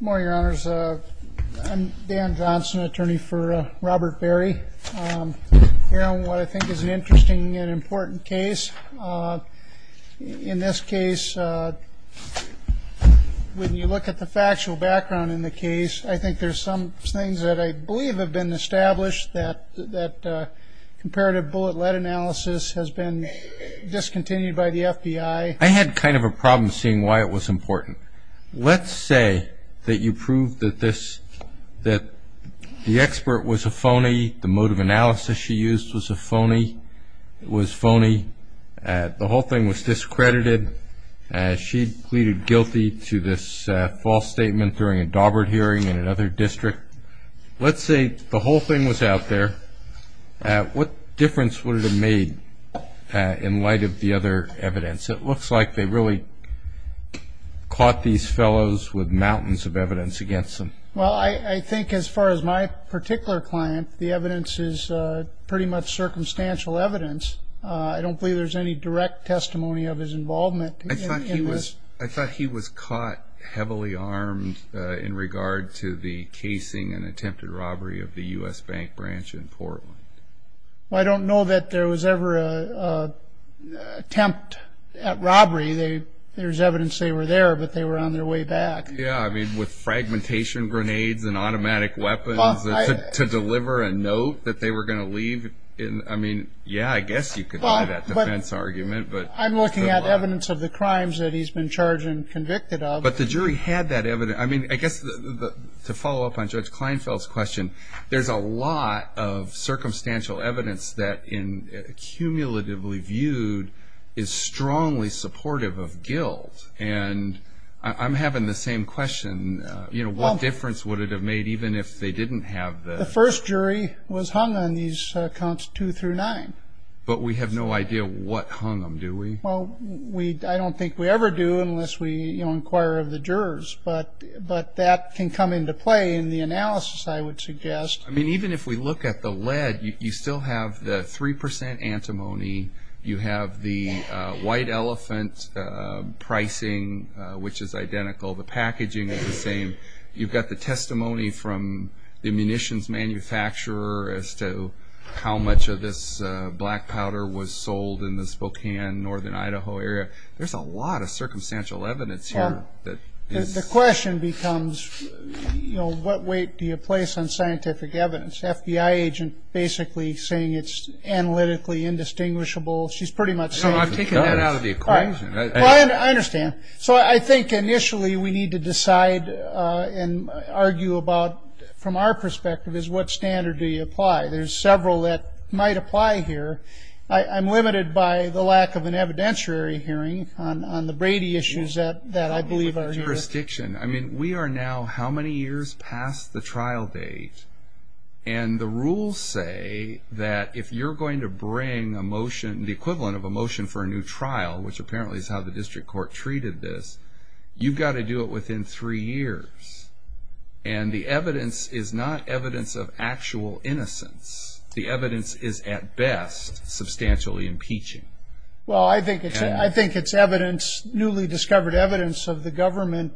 Morning, your honors. I'm Dan Johnson, attorney for Robert Berry. We're on what I think is an interesting and important case. In this case, when you look at the factual background in the case, I think there's some things that I believe have been established that comparative bullet lead analysis has been discontinued by the FBI. I had kind of a problem seeing why it was important. Let's say that you prove that the expert was a phony. The mode of analysis she used was a phony. It was phony. The whole thing was discredited. She pleaded guilty to this false statement during a Daubert hearing in another district. Let's say the whole thing was out there. What difference would it have made in light of the other evidence? It looks like they really caught these fellows with mountains of evidence against them. Well, I think as far as my particular client, the evidence is pretty much circumstantial evidence. I don't believe there's any direct testimony of his involvement in this. I thought he was caught heavily armed in regard to the casing and attempted robbery of the U.S. Bank branch in Portland. I don't know that there was ever an attempt at robbery. There's evidence they were there, but they were on their way back. Yeah, I mean, with fragmentation grenades and automatic weapons to deliver a note that they were going to leave. I mean, yeah, I guess you could have that defense argument. I'm looking at evidence of the crimes that he's been charged and convicted of. But the jury had that evidence. I mean, I guess to follow up on Judge Kleinfeld's question, there's a lot of circumstantial evidence that, cumulatively viewed, is strongly supportive of guilt. And I'm having the same question. You know, what difference would it have made even if they didn't have the... The first jury was hung on these counts two through nine. But we have no idea what hung them, do we? Well, I don't think we ever do unless we inquire of the jurors. But that can come into play in the analysis, I would suggest. I mean, even if we look at the lead, you still have the 3 percent antimony. You have the white elephant pricing, which is identical. The packaging is the same. You've got the testimony from the munitions manufacturer as to how much of this black powder was sold in the Spokane, northern Idaho area. There's a lot of circumstantial evidence here. The question becomes, you know, what weight do you place on scientific evidence? FBI agent basically saying it's analytically indistinguishable. She's pretty much safe. No, I'm taking that out of the equation. I understand. So I think initially we need to decide and argue about, from our perspective, is what standard do you apply? There's several that might apply here. I'm limited by the lack of an evidentiary hearing on the Brady issues that I believe are here. Jurisdiction. I mean, we are now how many years past the trial date? And the rules say that if you're going to bring a motion, the equivalent of a motion for a new trial, which apparently is how the district court treated this, you've got to do it within three years. And the evidence is not evidence of actual innocence. The evidence is, at best, substantially impeaching. Well, I think it's evidence, newly discovered evidence of the government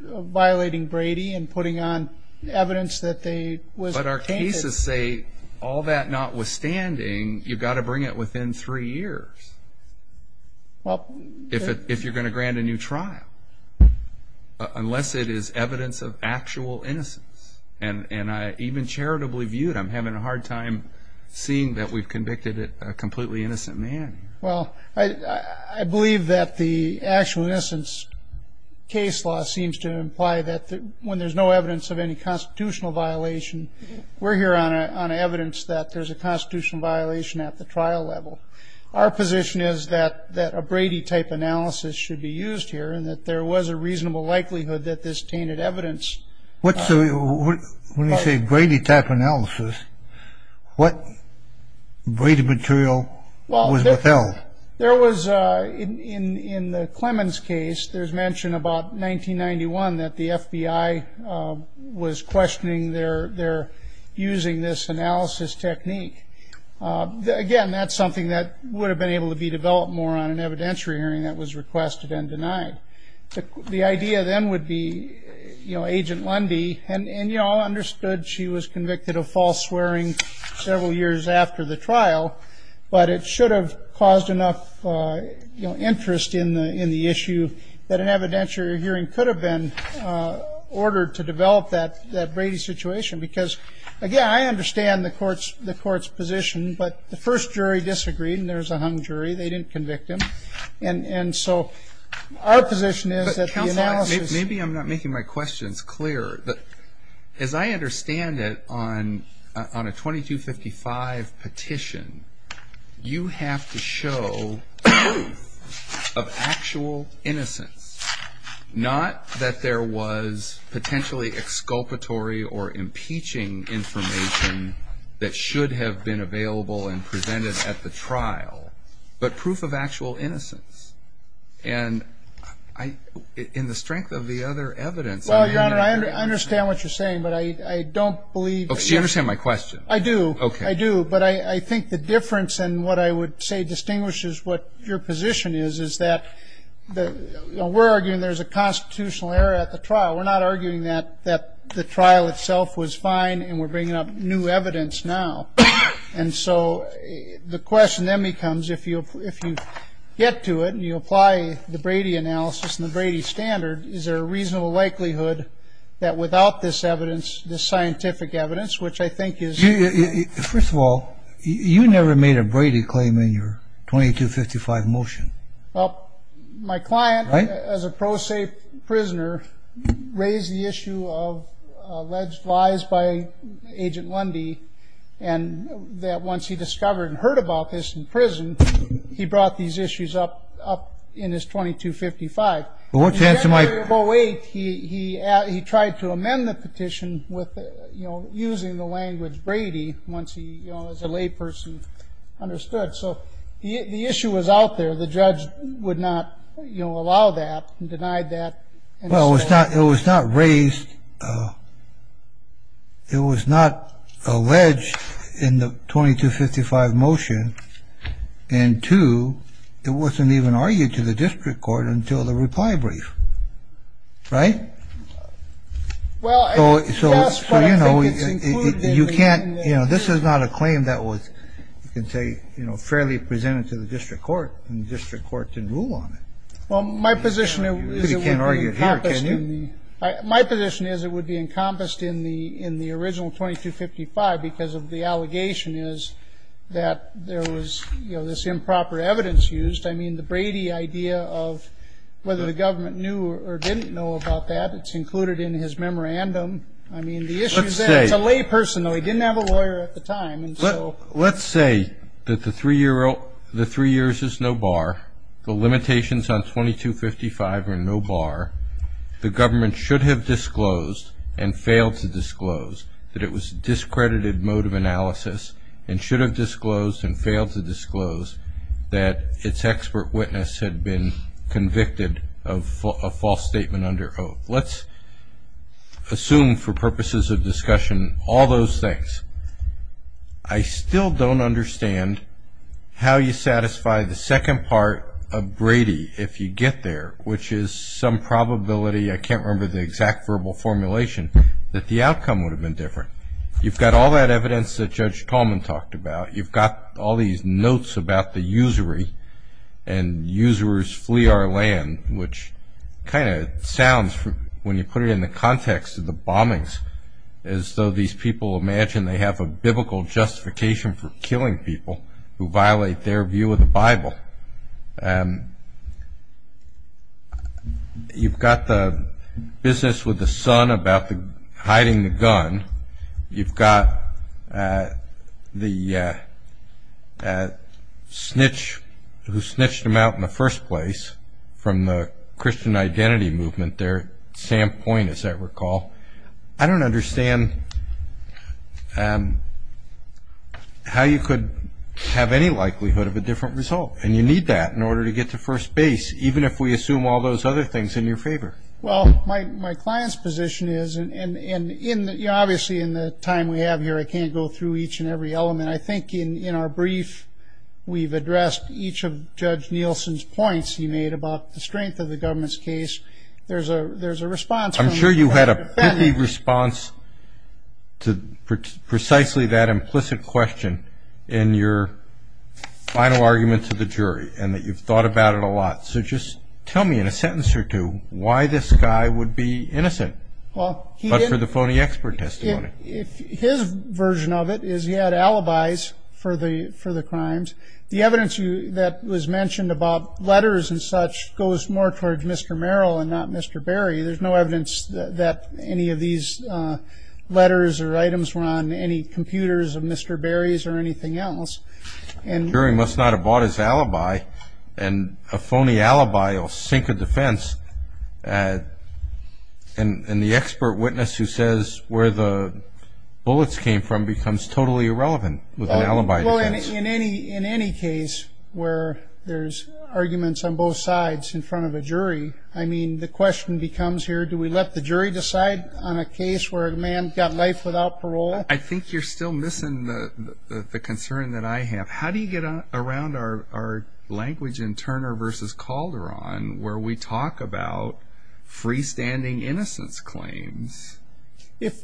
violating Brady and putting on evidence that they was a candidate. But our cases say, all that notwithstanding, you've got to bring it within three years if you're going to grant a new trial, unless it is evidence of actual innocence. And even charitably viewed, I'm having a hard time seeing that we've convicted a completely innocent man. Well, I believe that the actual innocence case law seems to imply that when there's no evidence of any constitutional violation, we're here on evidence that there's a constitutional violation at the trial level. Our position is that a Brady-type analysis should be used here and that there was a reasonable likelihood that this tainted evidence. When you say Brady-type analysis, what Brady material was withheld? Well, there was, in the Clemens case, there's mention about 1991 that the FBI was questioning their using this analysis technique. Again, that's something that would have been able to be developed more on an evidentiary hearing that was requested and denied. The idea then would be, you know, Agent Lundy. And you all understood she was convicted of false swearing several years after the trial, but it should have caused enough interest in the issue that an evidentiary hearing could have been ordered to develop that Brady situation. Because, again, I understand the court's position, but the first jury disagreed, and there was a hung jury. They didn't convict him. And so our position is that the analysis- But, counsel, maybe I'm not making my questions clear. As I understand it, on a 2255 petition, you have to show proof of actual innocence, not that there was potentially exculpatory or impeaching information that should have been available and presented at the trial, but proof of actual innocence. And in the strength of the other evidence- Well, Your Honor, I understand what you're saying, but I don't believe- Oh, so you understand my question. I do. Okay. I do, but I think the difference in what I would say distinguishes what your position is, is that we're arguing there's a constitutional error at the trial. We're not arguing that the trial itself was fine and we're bringing up new evidence now. And so the question then becomes, if you get to it and you apply the Brady analysis and the Brady standard, is there a reasonable likelihood that without this evidence, this scientific evidence, which I think is- First of all, you never made a Brady claim in your 2255 motion. Well, my client, as a pro se prisoner, raised the issue of alleged lies by Agent Lundy, and that once he discovered and heard about this in prison, he brought these issues up in his 2255. In January of 08, he tried to amend the petition using the language Brady, once he, as a layperson, understood. So the issue was out there. The judge would not allow that and denied that. Well, it was not raised. It was not alleged in the 2255 motion. And two, it wasn't even argued to the district court until the reply brief. Right? So, you know, you can't, you know, this is not a claim that was, you can say, you know, fairly presented to the district court, and the district court didn't rule on it. Well, my position is- You can't argue it here, can you? My position is it would be encompassed in the original 2255 because of the allegation is that there was, you know, this improper evidence used. I mean, the Brady idea of whether the government knew or didn't know about that, it's included in his memorandum. I mean, the issue is that- Let's say- It's a layperson, though. He didn't have a lawyer at the time, and so- Let's say that the three years is no bar, the limitations on 2255 are no bar, the government should have disclosed and failed to disclose that it was discredited mode of analysis and should have disclosed and failed to disclose that its expert witness had been convicted of a false statement under oath. Let's assume for purposes of discussion all those things. I still don't understand how you satisfy the second part of Brady if you get there, which is some probability, I can't remember the exact verbal formulation, that the outcome would have been different. You've got all that evidence that Judge Tallman talked about. You've got all these notes about the usury and usurers flee our land, which kind of sounds, when you put it in the context of the bombings, as though these people imagine they have a biblical justification for killing people who violate their view of the Bible. You've got the business with the son about hiding the gun. You've got the snitch who snitched him out in the first place from the Christian identity movement there, Sam Point, as I recall. I don't understand how you could have any likelihood of a different result, and you need that in order to get to first base, even if we assume all those other things in your favor. Well, my client's position is, and obviously in the time we have here I can't go through each and every element. I think in our brief we've addressed each of Judge Nielsen's points he made about the strength of the government's case. I'm sure you had a poopy response to precisely that implicit question in your final argument to the jury, and that you've thought about it a lot. So just tell me in a sentence or two why this guy would be innocent, but for the phony expert testimony. His version of it is he had alibis for the crimes. The evidence that was mentioned about letters and such goes more towards Mr. Merrill and not Mr. Berry. There's no evidence that any of these letters or items were on any computers of Mr. Berry's or anything else. A jury must not have bought his alibi, and a phony alibi will sink a defense, and the expert witness who says where the bullets came from becomes totally irrelevant with an alibi defense. Well, in any case where there's arguments on both sides in front of a jury, I mean, the question becomes here, do we let the jury decide on a case where a man got life without parole? I think you're still missing the concern that I have. How do you get around our language in Turner v. Calderon where we talk about freestanding innocence claims?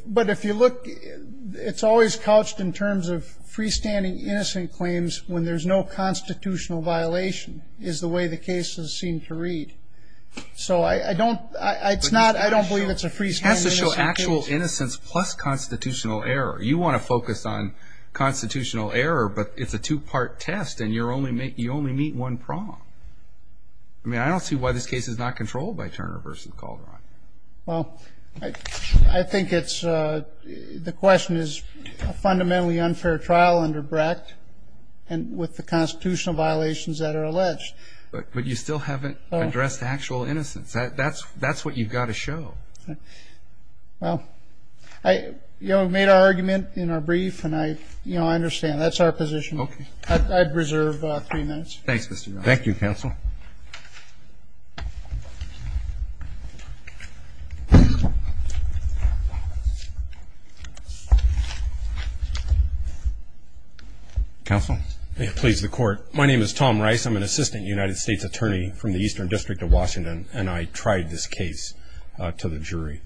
But if you look, it's always couched in terms of freestanding innocent claims when there's no constitutional violation is the way the cases seem to read. So I don't believe it's a freestanding innocent case. It has to show actual innocence plus constitutional error. You want to focus on constitutional error, but it's a two-part test, and you only meet one prong. I mean, I don't see why this case is not controlled by Turner v. Calderon. Well, I think it's the question is a fundamentally unfair trial under Brecht and with the constitutional violations that are alleged. But you still haven't addressed actual innocence. That's what you've got to show. Well, you know, we've made our argument in our brief, and I understand. That's our position. Okay. I'd reserve three minutes. Thanks, Mr. Miller. Thank you, counsel. Thank you. Counsel. Please, the court. My name is Tom Rice. I'm an assistant United States attorney from the Eastern District of Washington, and I tried this case to the jury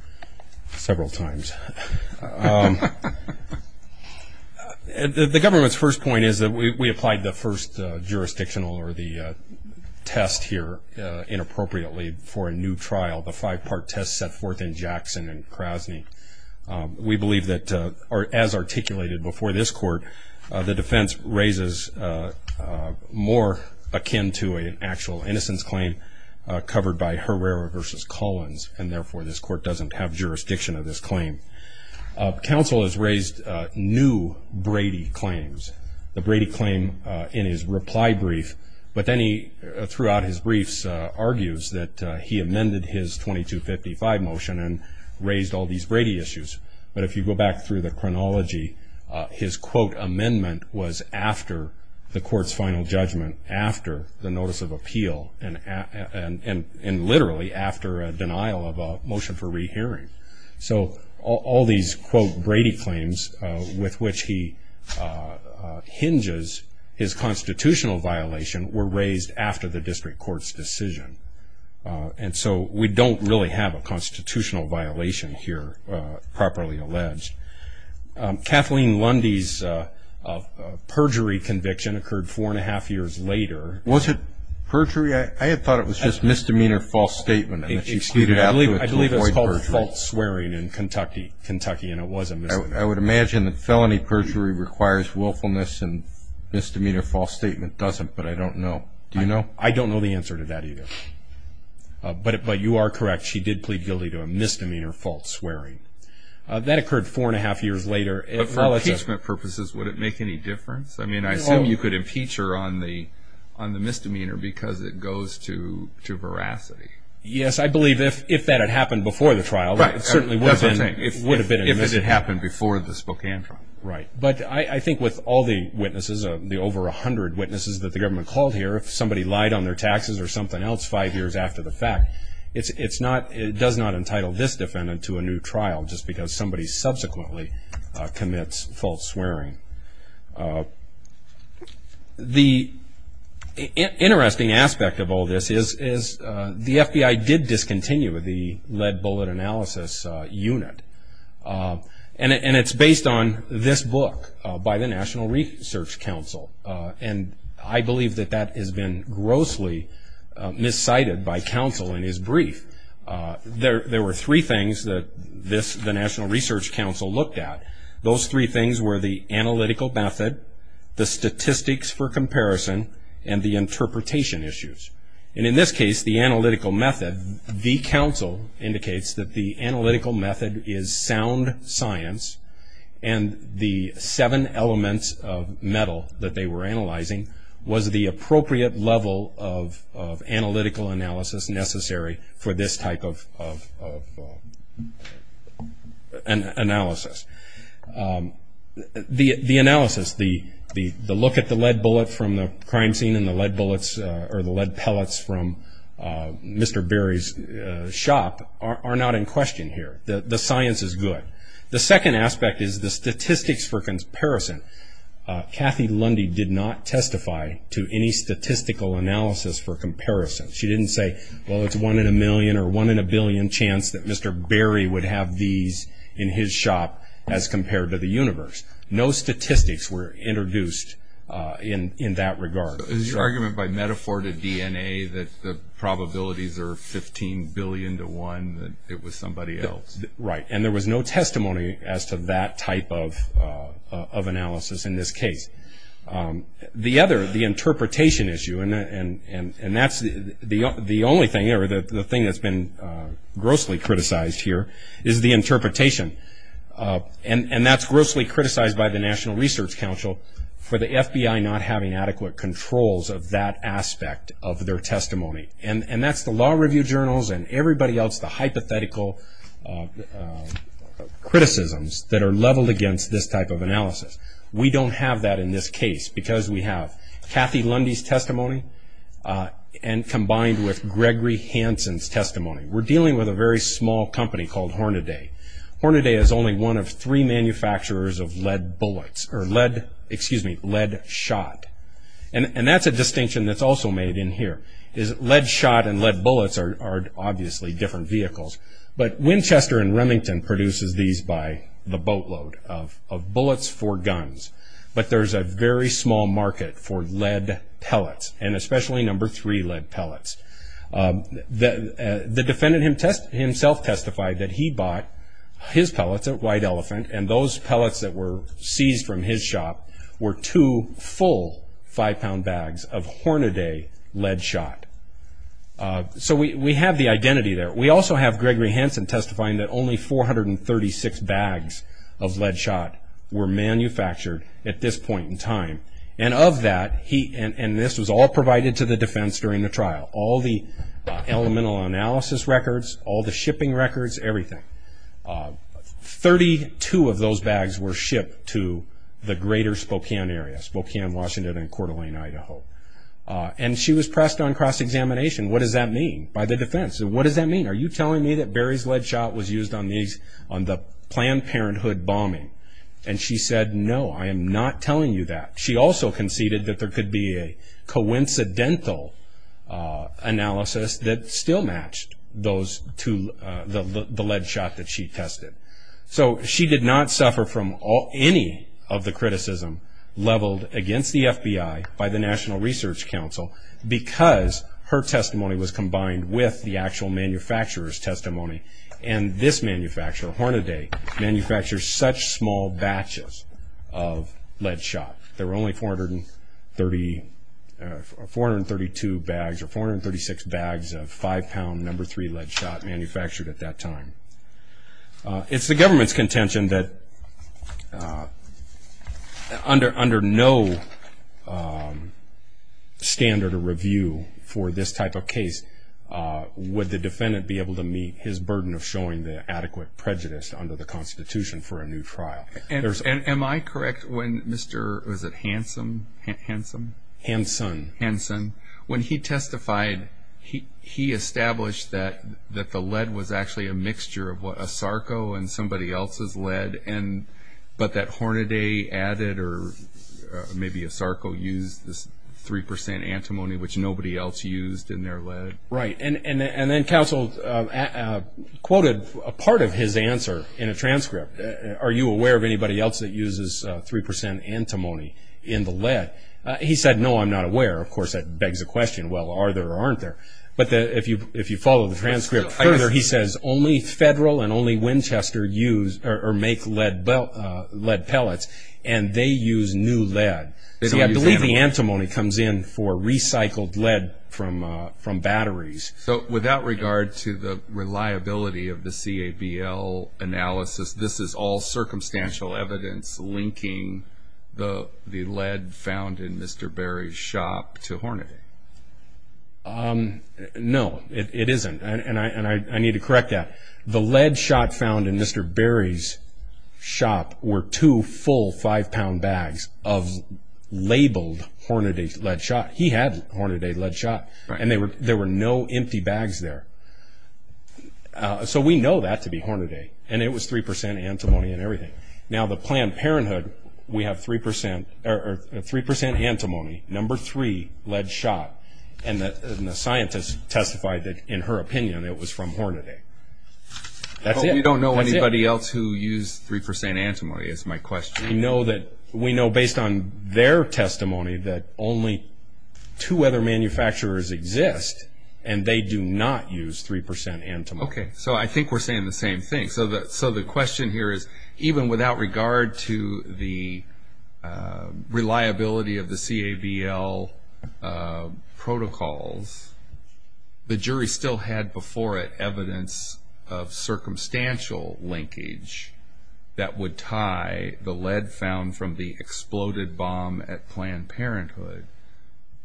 several times. The government's first point is that we applied the first jurisdictional or the test here inappropriately for a new trial, the five-part test set forth in Jackson and Krasny. We believe that, as articulated before this court, the defense raises more akin to an actual innocence claim covered by Herrera v. Collins, and therefore this court doesn't have jurisdiction of this claim. Counsel has raised new Brady claims, the Brady claim in his reply brief. But then he, throughout his briefs, argues that he amended his 2255 motion and raised all these Brady issues. But if you go back through the chronology, his, quote, So all these, quote, Brady claims with which he hinges his constitutional violation were raised after the district court's decision. And so we don't really have a constitutional violation here properly alleged. Kathleen Lundy's perjury conviction occurred four and a half years later. Was it perjury? I had thought it was just misdemeanor false statement. I believe it was called a false swearing in Kentucky, and it was a misdemeanor. I would imagine that felony perjury requires willfulness and misdemeanor false statement doesn't, but I don't know. Do you know? I don't know the answer to that either. But you are correct. She did plead guilty to a misdemeanor false swearing. That occurred four and a half years later. But for impeachment purposes, would it make any difference? I mean, I assume you could impeach her on the misdemeanor because it goes to veracity. Yes, I believe if that had happened before the trial, it certainly would have been a misdemeanor. If it had happened before the Spokane trial. Right. But I think with all the witnesses, the over 100 witnesses that the government called here, if somebody lied on their taxes or something else five years after the fact, it does not entitle this defendant to a new trial just because somebody subsequently commits false swearing. The interesting aspect of all this is the FBI did discontinue the lead bullet analysis unit. And it's based on this book by the National Research Council. And I believe that that has been grossly miscited by counsel in his brief. There were three things that the National Research Council looked at. Those three things were the analytical method, the statistics for comparison, and the interpretation issues. And in this case, the analytical method, the counsel indicates that the analytical method is sound science. And the seven elements of metal that they were analyzing was the appropriate level of analytical analysis necessary for this type of analysis. The analysis, the look at the lead bullet from the crime scene and the lead pellets from Mr. Berry's shop are not in question here. The science is good. The second aspect is the statistics for comparison. Kathy Lundy did not testify to any statistical analysis for comparison. She didn't say, well, it's one in a million or one in a billion chance that Mr. Berry would have these in his shop. As compared to the universe. No statistics were introduced in that regard. Is your argument by metaphor to DNA that the probabilities are 15 billion to one that it was somebody else? Right. And there was no testimony as to that type of analysis in this case. The other, the interpretation issue, and that's the only thing, or the thing that's been grossly criticized here is the interpretation. And that's grossly criticized by the National Research Council for the FBI not having adequate controls of that aspect of their testimony. And that's the law review journals and everybody else, the hypothetical criticisms that are leveled against this type of analysis. We don't have that in this case because we have Kathy Lundy's testimony and combined with Gregory Hansen's testimony. We're dealing with a very small company called Hornaday. Hornaday is only one of three manufacturers of lead bullets or lead, excuse me, lead shot. And that's a distinction that's also made in here is lead shot and lead bullets are obviously different vehicles. But Winchester and Remington produces these by the boatload of bullets for guns. But there's a very small market for lead pellets and especially number three lead pellets. The defendant himself testified that he bought his pellets at White Elephant and those pellets that were seized from his shop were two full five-pound bags of Hornaday lead shot. So we have the identity there. We also have Gregory Hansen testifying that only 436 bags of lead shot were manufactured at this point in time. And of that, and this was all provided to the defense during the trial, all the elemental analysis records, all the shipping records, everything, 32 of those bags were shipped to the greater Spokane area, Spokane, Washington, and Coeur d'Alene, Idaho. And she was pressed on cross-examination. What does that mean by the defense? What does that mean? Are you telling me that Barry's lead shot was used on the Planned Parenthood bombing? And she said, no, I am not telling you that. She also conceded that there could be a coincidental analysis that still matched the lead shot that she tested. So she did not suffer from any of the criticism leveled against the FBI by the National Research Council because her testimony was combined with the actual manufacturer's testimony. And this manufacturer, Hornaday, manufactures such small batches of lead shot. There were only 432 bags or 436 bags of five-pound number three lead shot manufactured at that time. It's the government's contention that under no standard or review for this type of case, would the defendant be able to meet his burden of showing the adequate prejudice under the Constitution for a new trial. Am I correct when Mr. was it Hanson? Hanson. When he testified, he established that the lead was actually a mixture of a Sarko and somebody else's lead, but that Hornaday added or maybe a Sarko used this 3% antimony, which nobody else used in their lead. Right. And then counsel quoted a part of his answer in a transcript. Are you aware of anybody else that uses 3% antimony in the lead? He said, no, I'm not aware. Of course, that begs the question, well, are there or aren't there? But if you follow the transcript, he says only Federal and only Winchester make lead pellets, and they use new lead. I believe the antimony comes in for recycled lead from batteries. So without regard to the reliability of the CABL analysis, this is all circumstantial evidence linking the lead found in Mr. Berry's shop to Hornaday? No, it isn't, and I need to correct that. The lead shot found in Mr. Berry's shop were two full five-pound bags of labeled Hornaday lead shot. He had Hornaday lead shot, and there were no empty bags there. So we know that to be Hornaday, and it was 3% antimony and everything. Now, the Planned Parenthood, we have 3% antimony, number three lead shot, and the scientist testified that, in her opinion, it was from Hornaday. That's it. But we don't know anybody else who used 3% antimony is my question. We know based on their testimony that only two other manufacturers exist, and they do not use 3% antimony. Okay, so I think we're saying the same thing. So the question here is, even without regard to the reliability of the CABL protocols, the jury still had before it evidence of circumstantial linkage that would tie the lead found from the exploded bomb at Planned Parenthood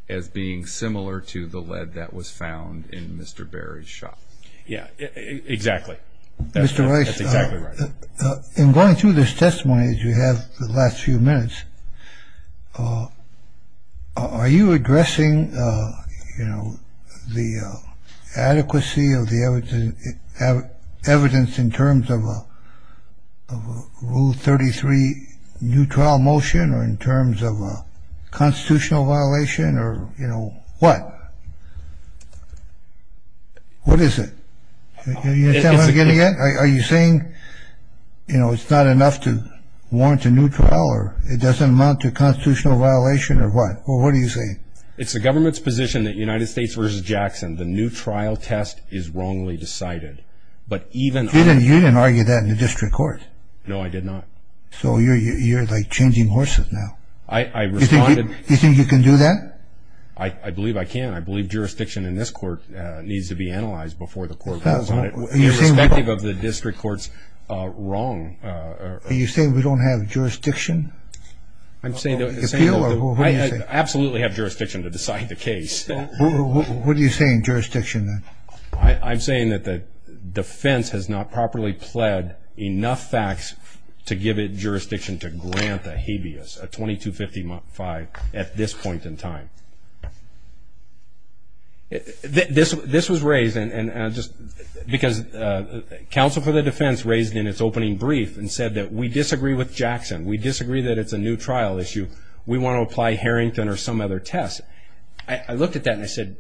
as being similar to the lead that was found in Mr. Berry's shop. Yeah, exactly. That's exactly right. In going through this testimony, as you have the last few minutes, are you addressing, you know, the adequacy of the evidence in terms of a Rule 33 neutral motion or in terms of a constitutional violation or, you know, what? What is it? Are you saying, you know, it's not enough to warrant a new trial or it doesn't amount to a constitutional violation or what? What are you saying? It's the government's position that United States versus Jackson, the new trial test is wrongly decided. You didn't argue that in the district court. No, I did not. So you're like changing horses now. Do you think you can do that? I believe I can. I believe jurisdiction in this court needs to be analyzed before the court goes on it, irrespective of the district court's wrong. Are you saying we don't have jurisdiction? I'm saying that I absolutely have jurisdiction to decide the case. What are you saying, jurisdiction? I'm saying that the defense has not properly pled enough facts to give it jurisdiction to grant a habeas, a 2255 at this point in time. This was raised because counsel for the defense raised in its opening brief and said that we disagree with Jackson. We disagree that it's a new trial issue. We want to apply Harrington or some other test. I looked at that and I said,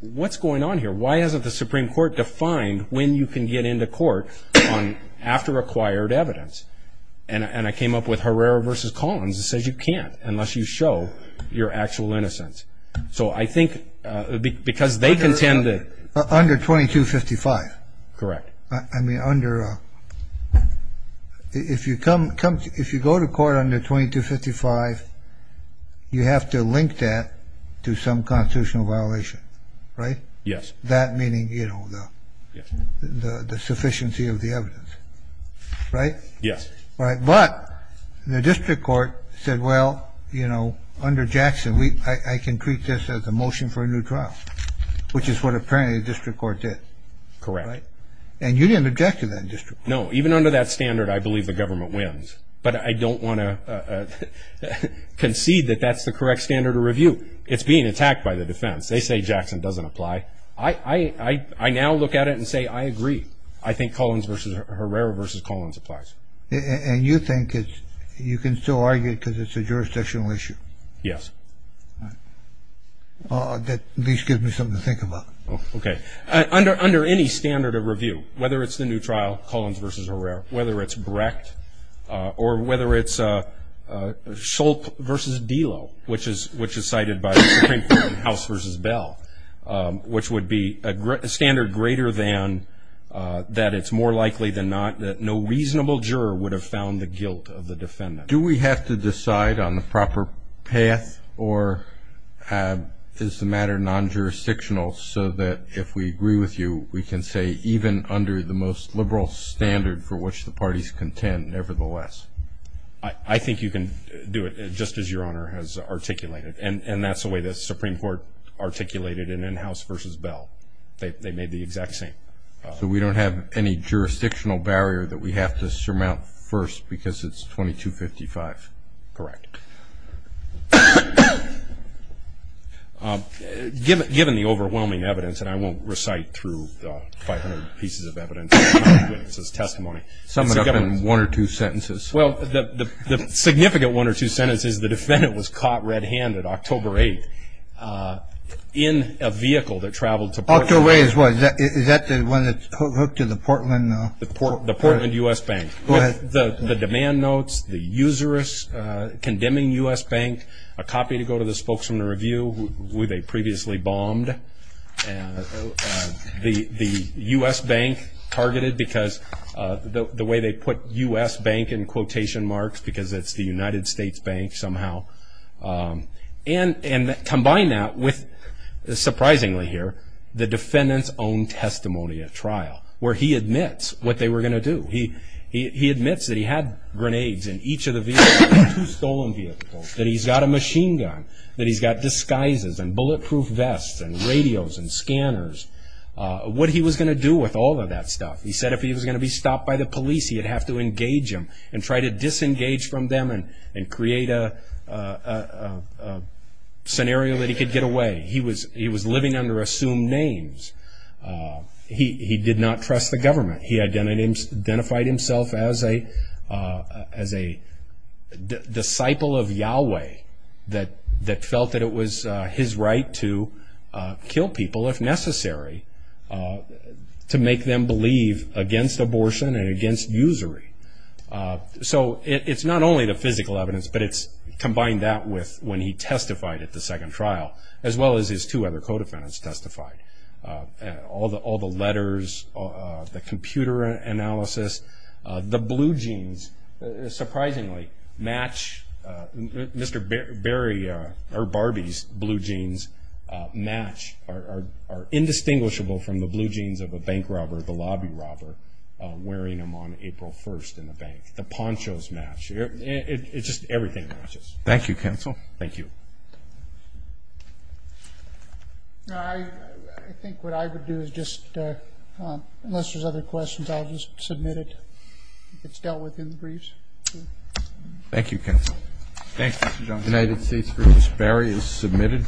what's going on here? Why hasn't the Supreme Court defined when you can get into court after acquired evidence? And I came up with Herrera v. Collins. It says you can't unless you show your actual innocence. So I think because they contend that. Under 2255. Correct. I mean, if you go to court under 2255, you have to link that to some constitutional violation, right? Yes. That meaning, you know, the sufficiency of the evidence, right? Yes. But the district court said, well, you know, under Jackson, I can treat this as a motion for a new trial, which is what apparently the district court did. Correct. And you didn't object to that district court. No, even under that standard, I believe the government wins. But I don't want to concede that that's the correct standard of review. It's being attacked by the defense. They say Jackson doesn't apply. I now look at it and say, I agree. I think Collins v. Herrera v. Collins applies. And you think you can still argue it because it's a jurisdictional issue? Yes. That at least gives me something to think about. Okay. Under any standard of review, whether it's the new trial, Collins v. Herrera, whether it's Brecht, or whether it's Shulp v. Delo, which is cited by the Supreme Court in House v. Bell, which would be a standard greater than that it's more likely than not that no reasonable juror would have found the guilt of the defendant. Do we have to decide on the proper path, or is the matter non-jurisdictional, so that if we agree with you, we can say even under the most liberal standard for which the parties contend nevertheless? I think you can do it, just as Your Honor has articulated. And that's the way the Supreme Court articulated it in House v. Bell. They made the exact same. So we don't have any jurisdictional barrier that we have to surmount first because it's 2255? Correct. Given the overwhelming evidence, and I won't recite through the 500 pieces of evidence and witnesses' testimony. Sum it up in one or two sentences. Well, the significant one or two sentences, the defendant was caught red-handed October 8th in a vehicle that traveled to Portland. October 8th is what? Is that the one that's hooked to the Portland? The Portland U.S. Bank. Go ahead. The demand notes, the usurous condemning U.S. Bank, a copy to go to the spokesman to review who they previously bombed. And the U.S. Bank targeted because the way they put U.S. Bank in quotation marks because it's the United States Bank somehow. And combine that with, surprisingly here, the defendant's own testimony at trial, where he admits what they were going to do. He admits that he had grenades in each of the two stolen vehicles, that he's got a machine gun, that he's got disguises and bulletproof vests and radios and scanners. What he was going to do with all of that stuff. He said if he was going to be stopped by the police, he would have to engage them and try to disengage from them and create a scenario that he could get away. He was living under assumed names. He did not trust the government. He identified himself as a disciple of Yahweh that felt that it was his right to kill people if necessary to make them believe against abortion and against usury. So it's not only the physical evidence, but it's combined that with when he testified at the second trial, as well as his two other co-defendants testified. All the letters, the computer analysis. The blue jeans, surprisingly, match. Mr. Barbee's blue jeans match, are indistinguishable from the blue jeans of a bank robber, the lobby robber, wearing them on April 1st in the bank. The ponchos match. It's just everything matches. Thank you, counsel. Thank you. I think what I would do is just, unless there's other questions, I'll just submit it. It's dealt with in the briefs. Thank you, counsel. Thank you, Mr. Johnson. United States v. Barry is submitted.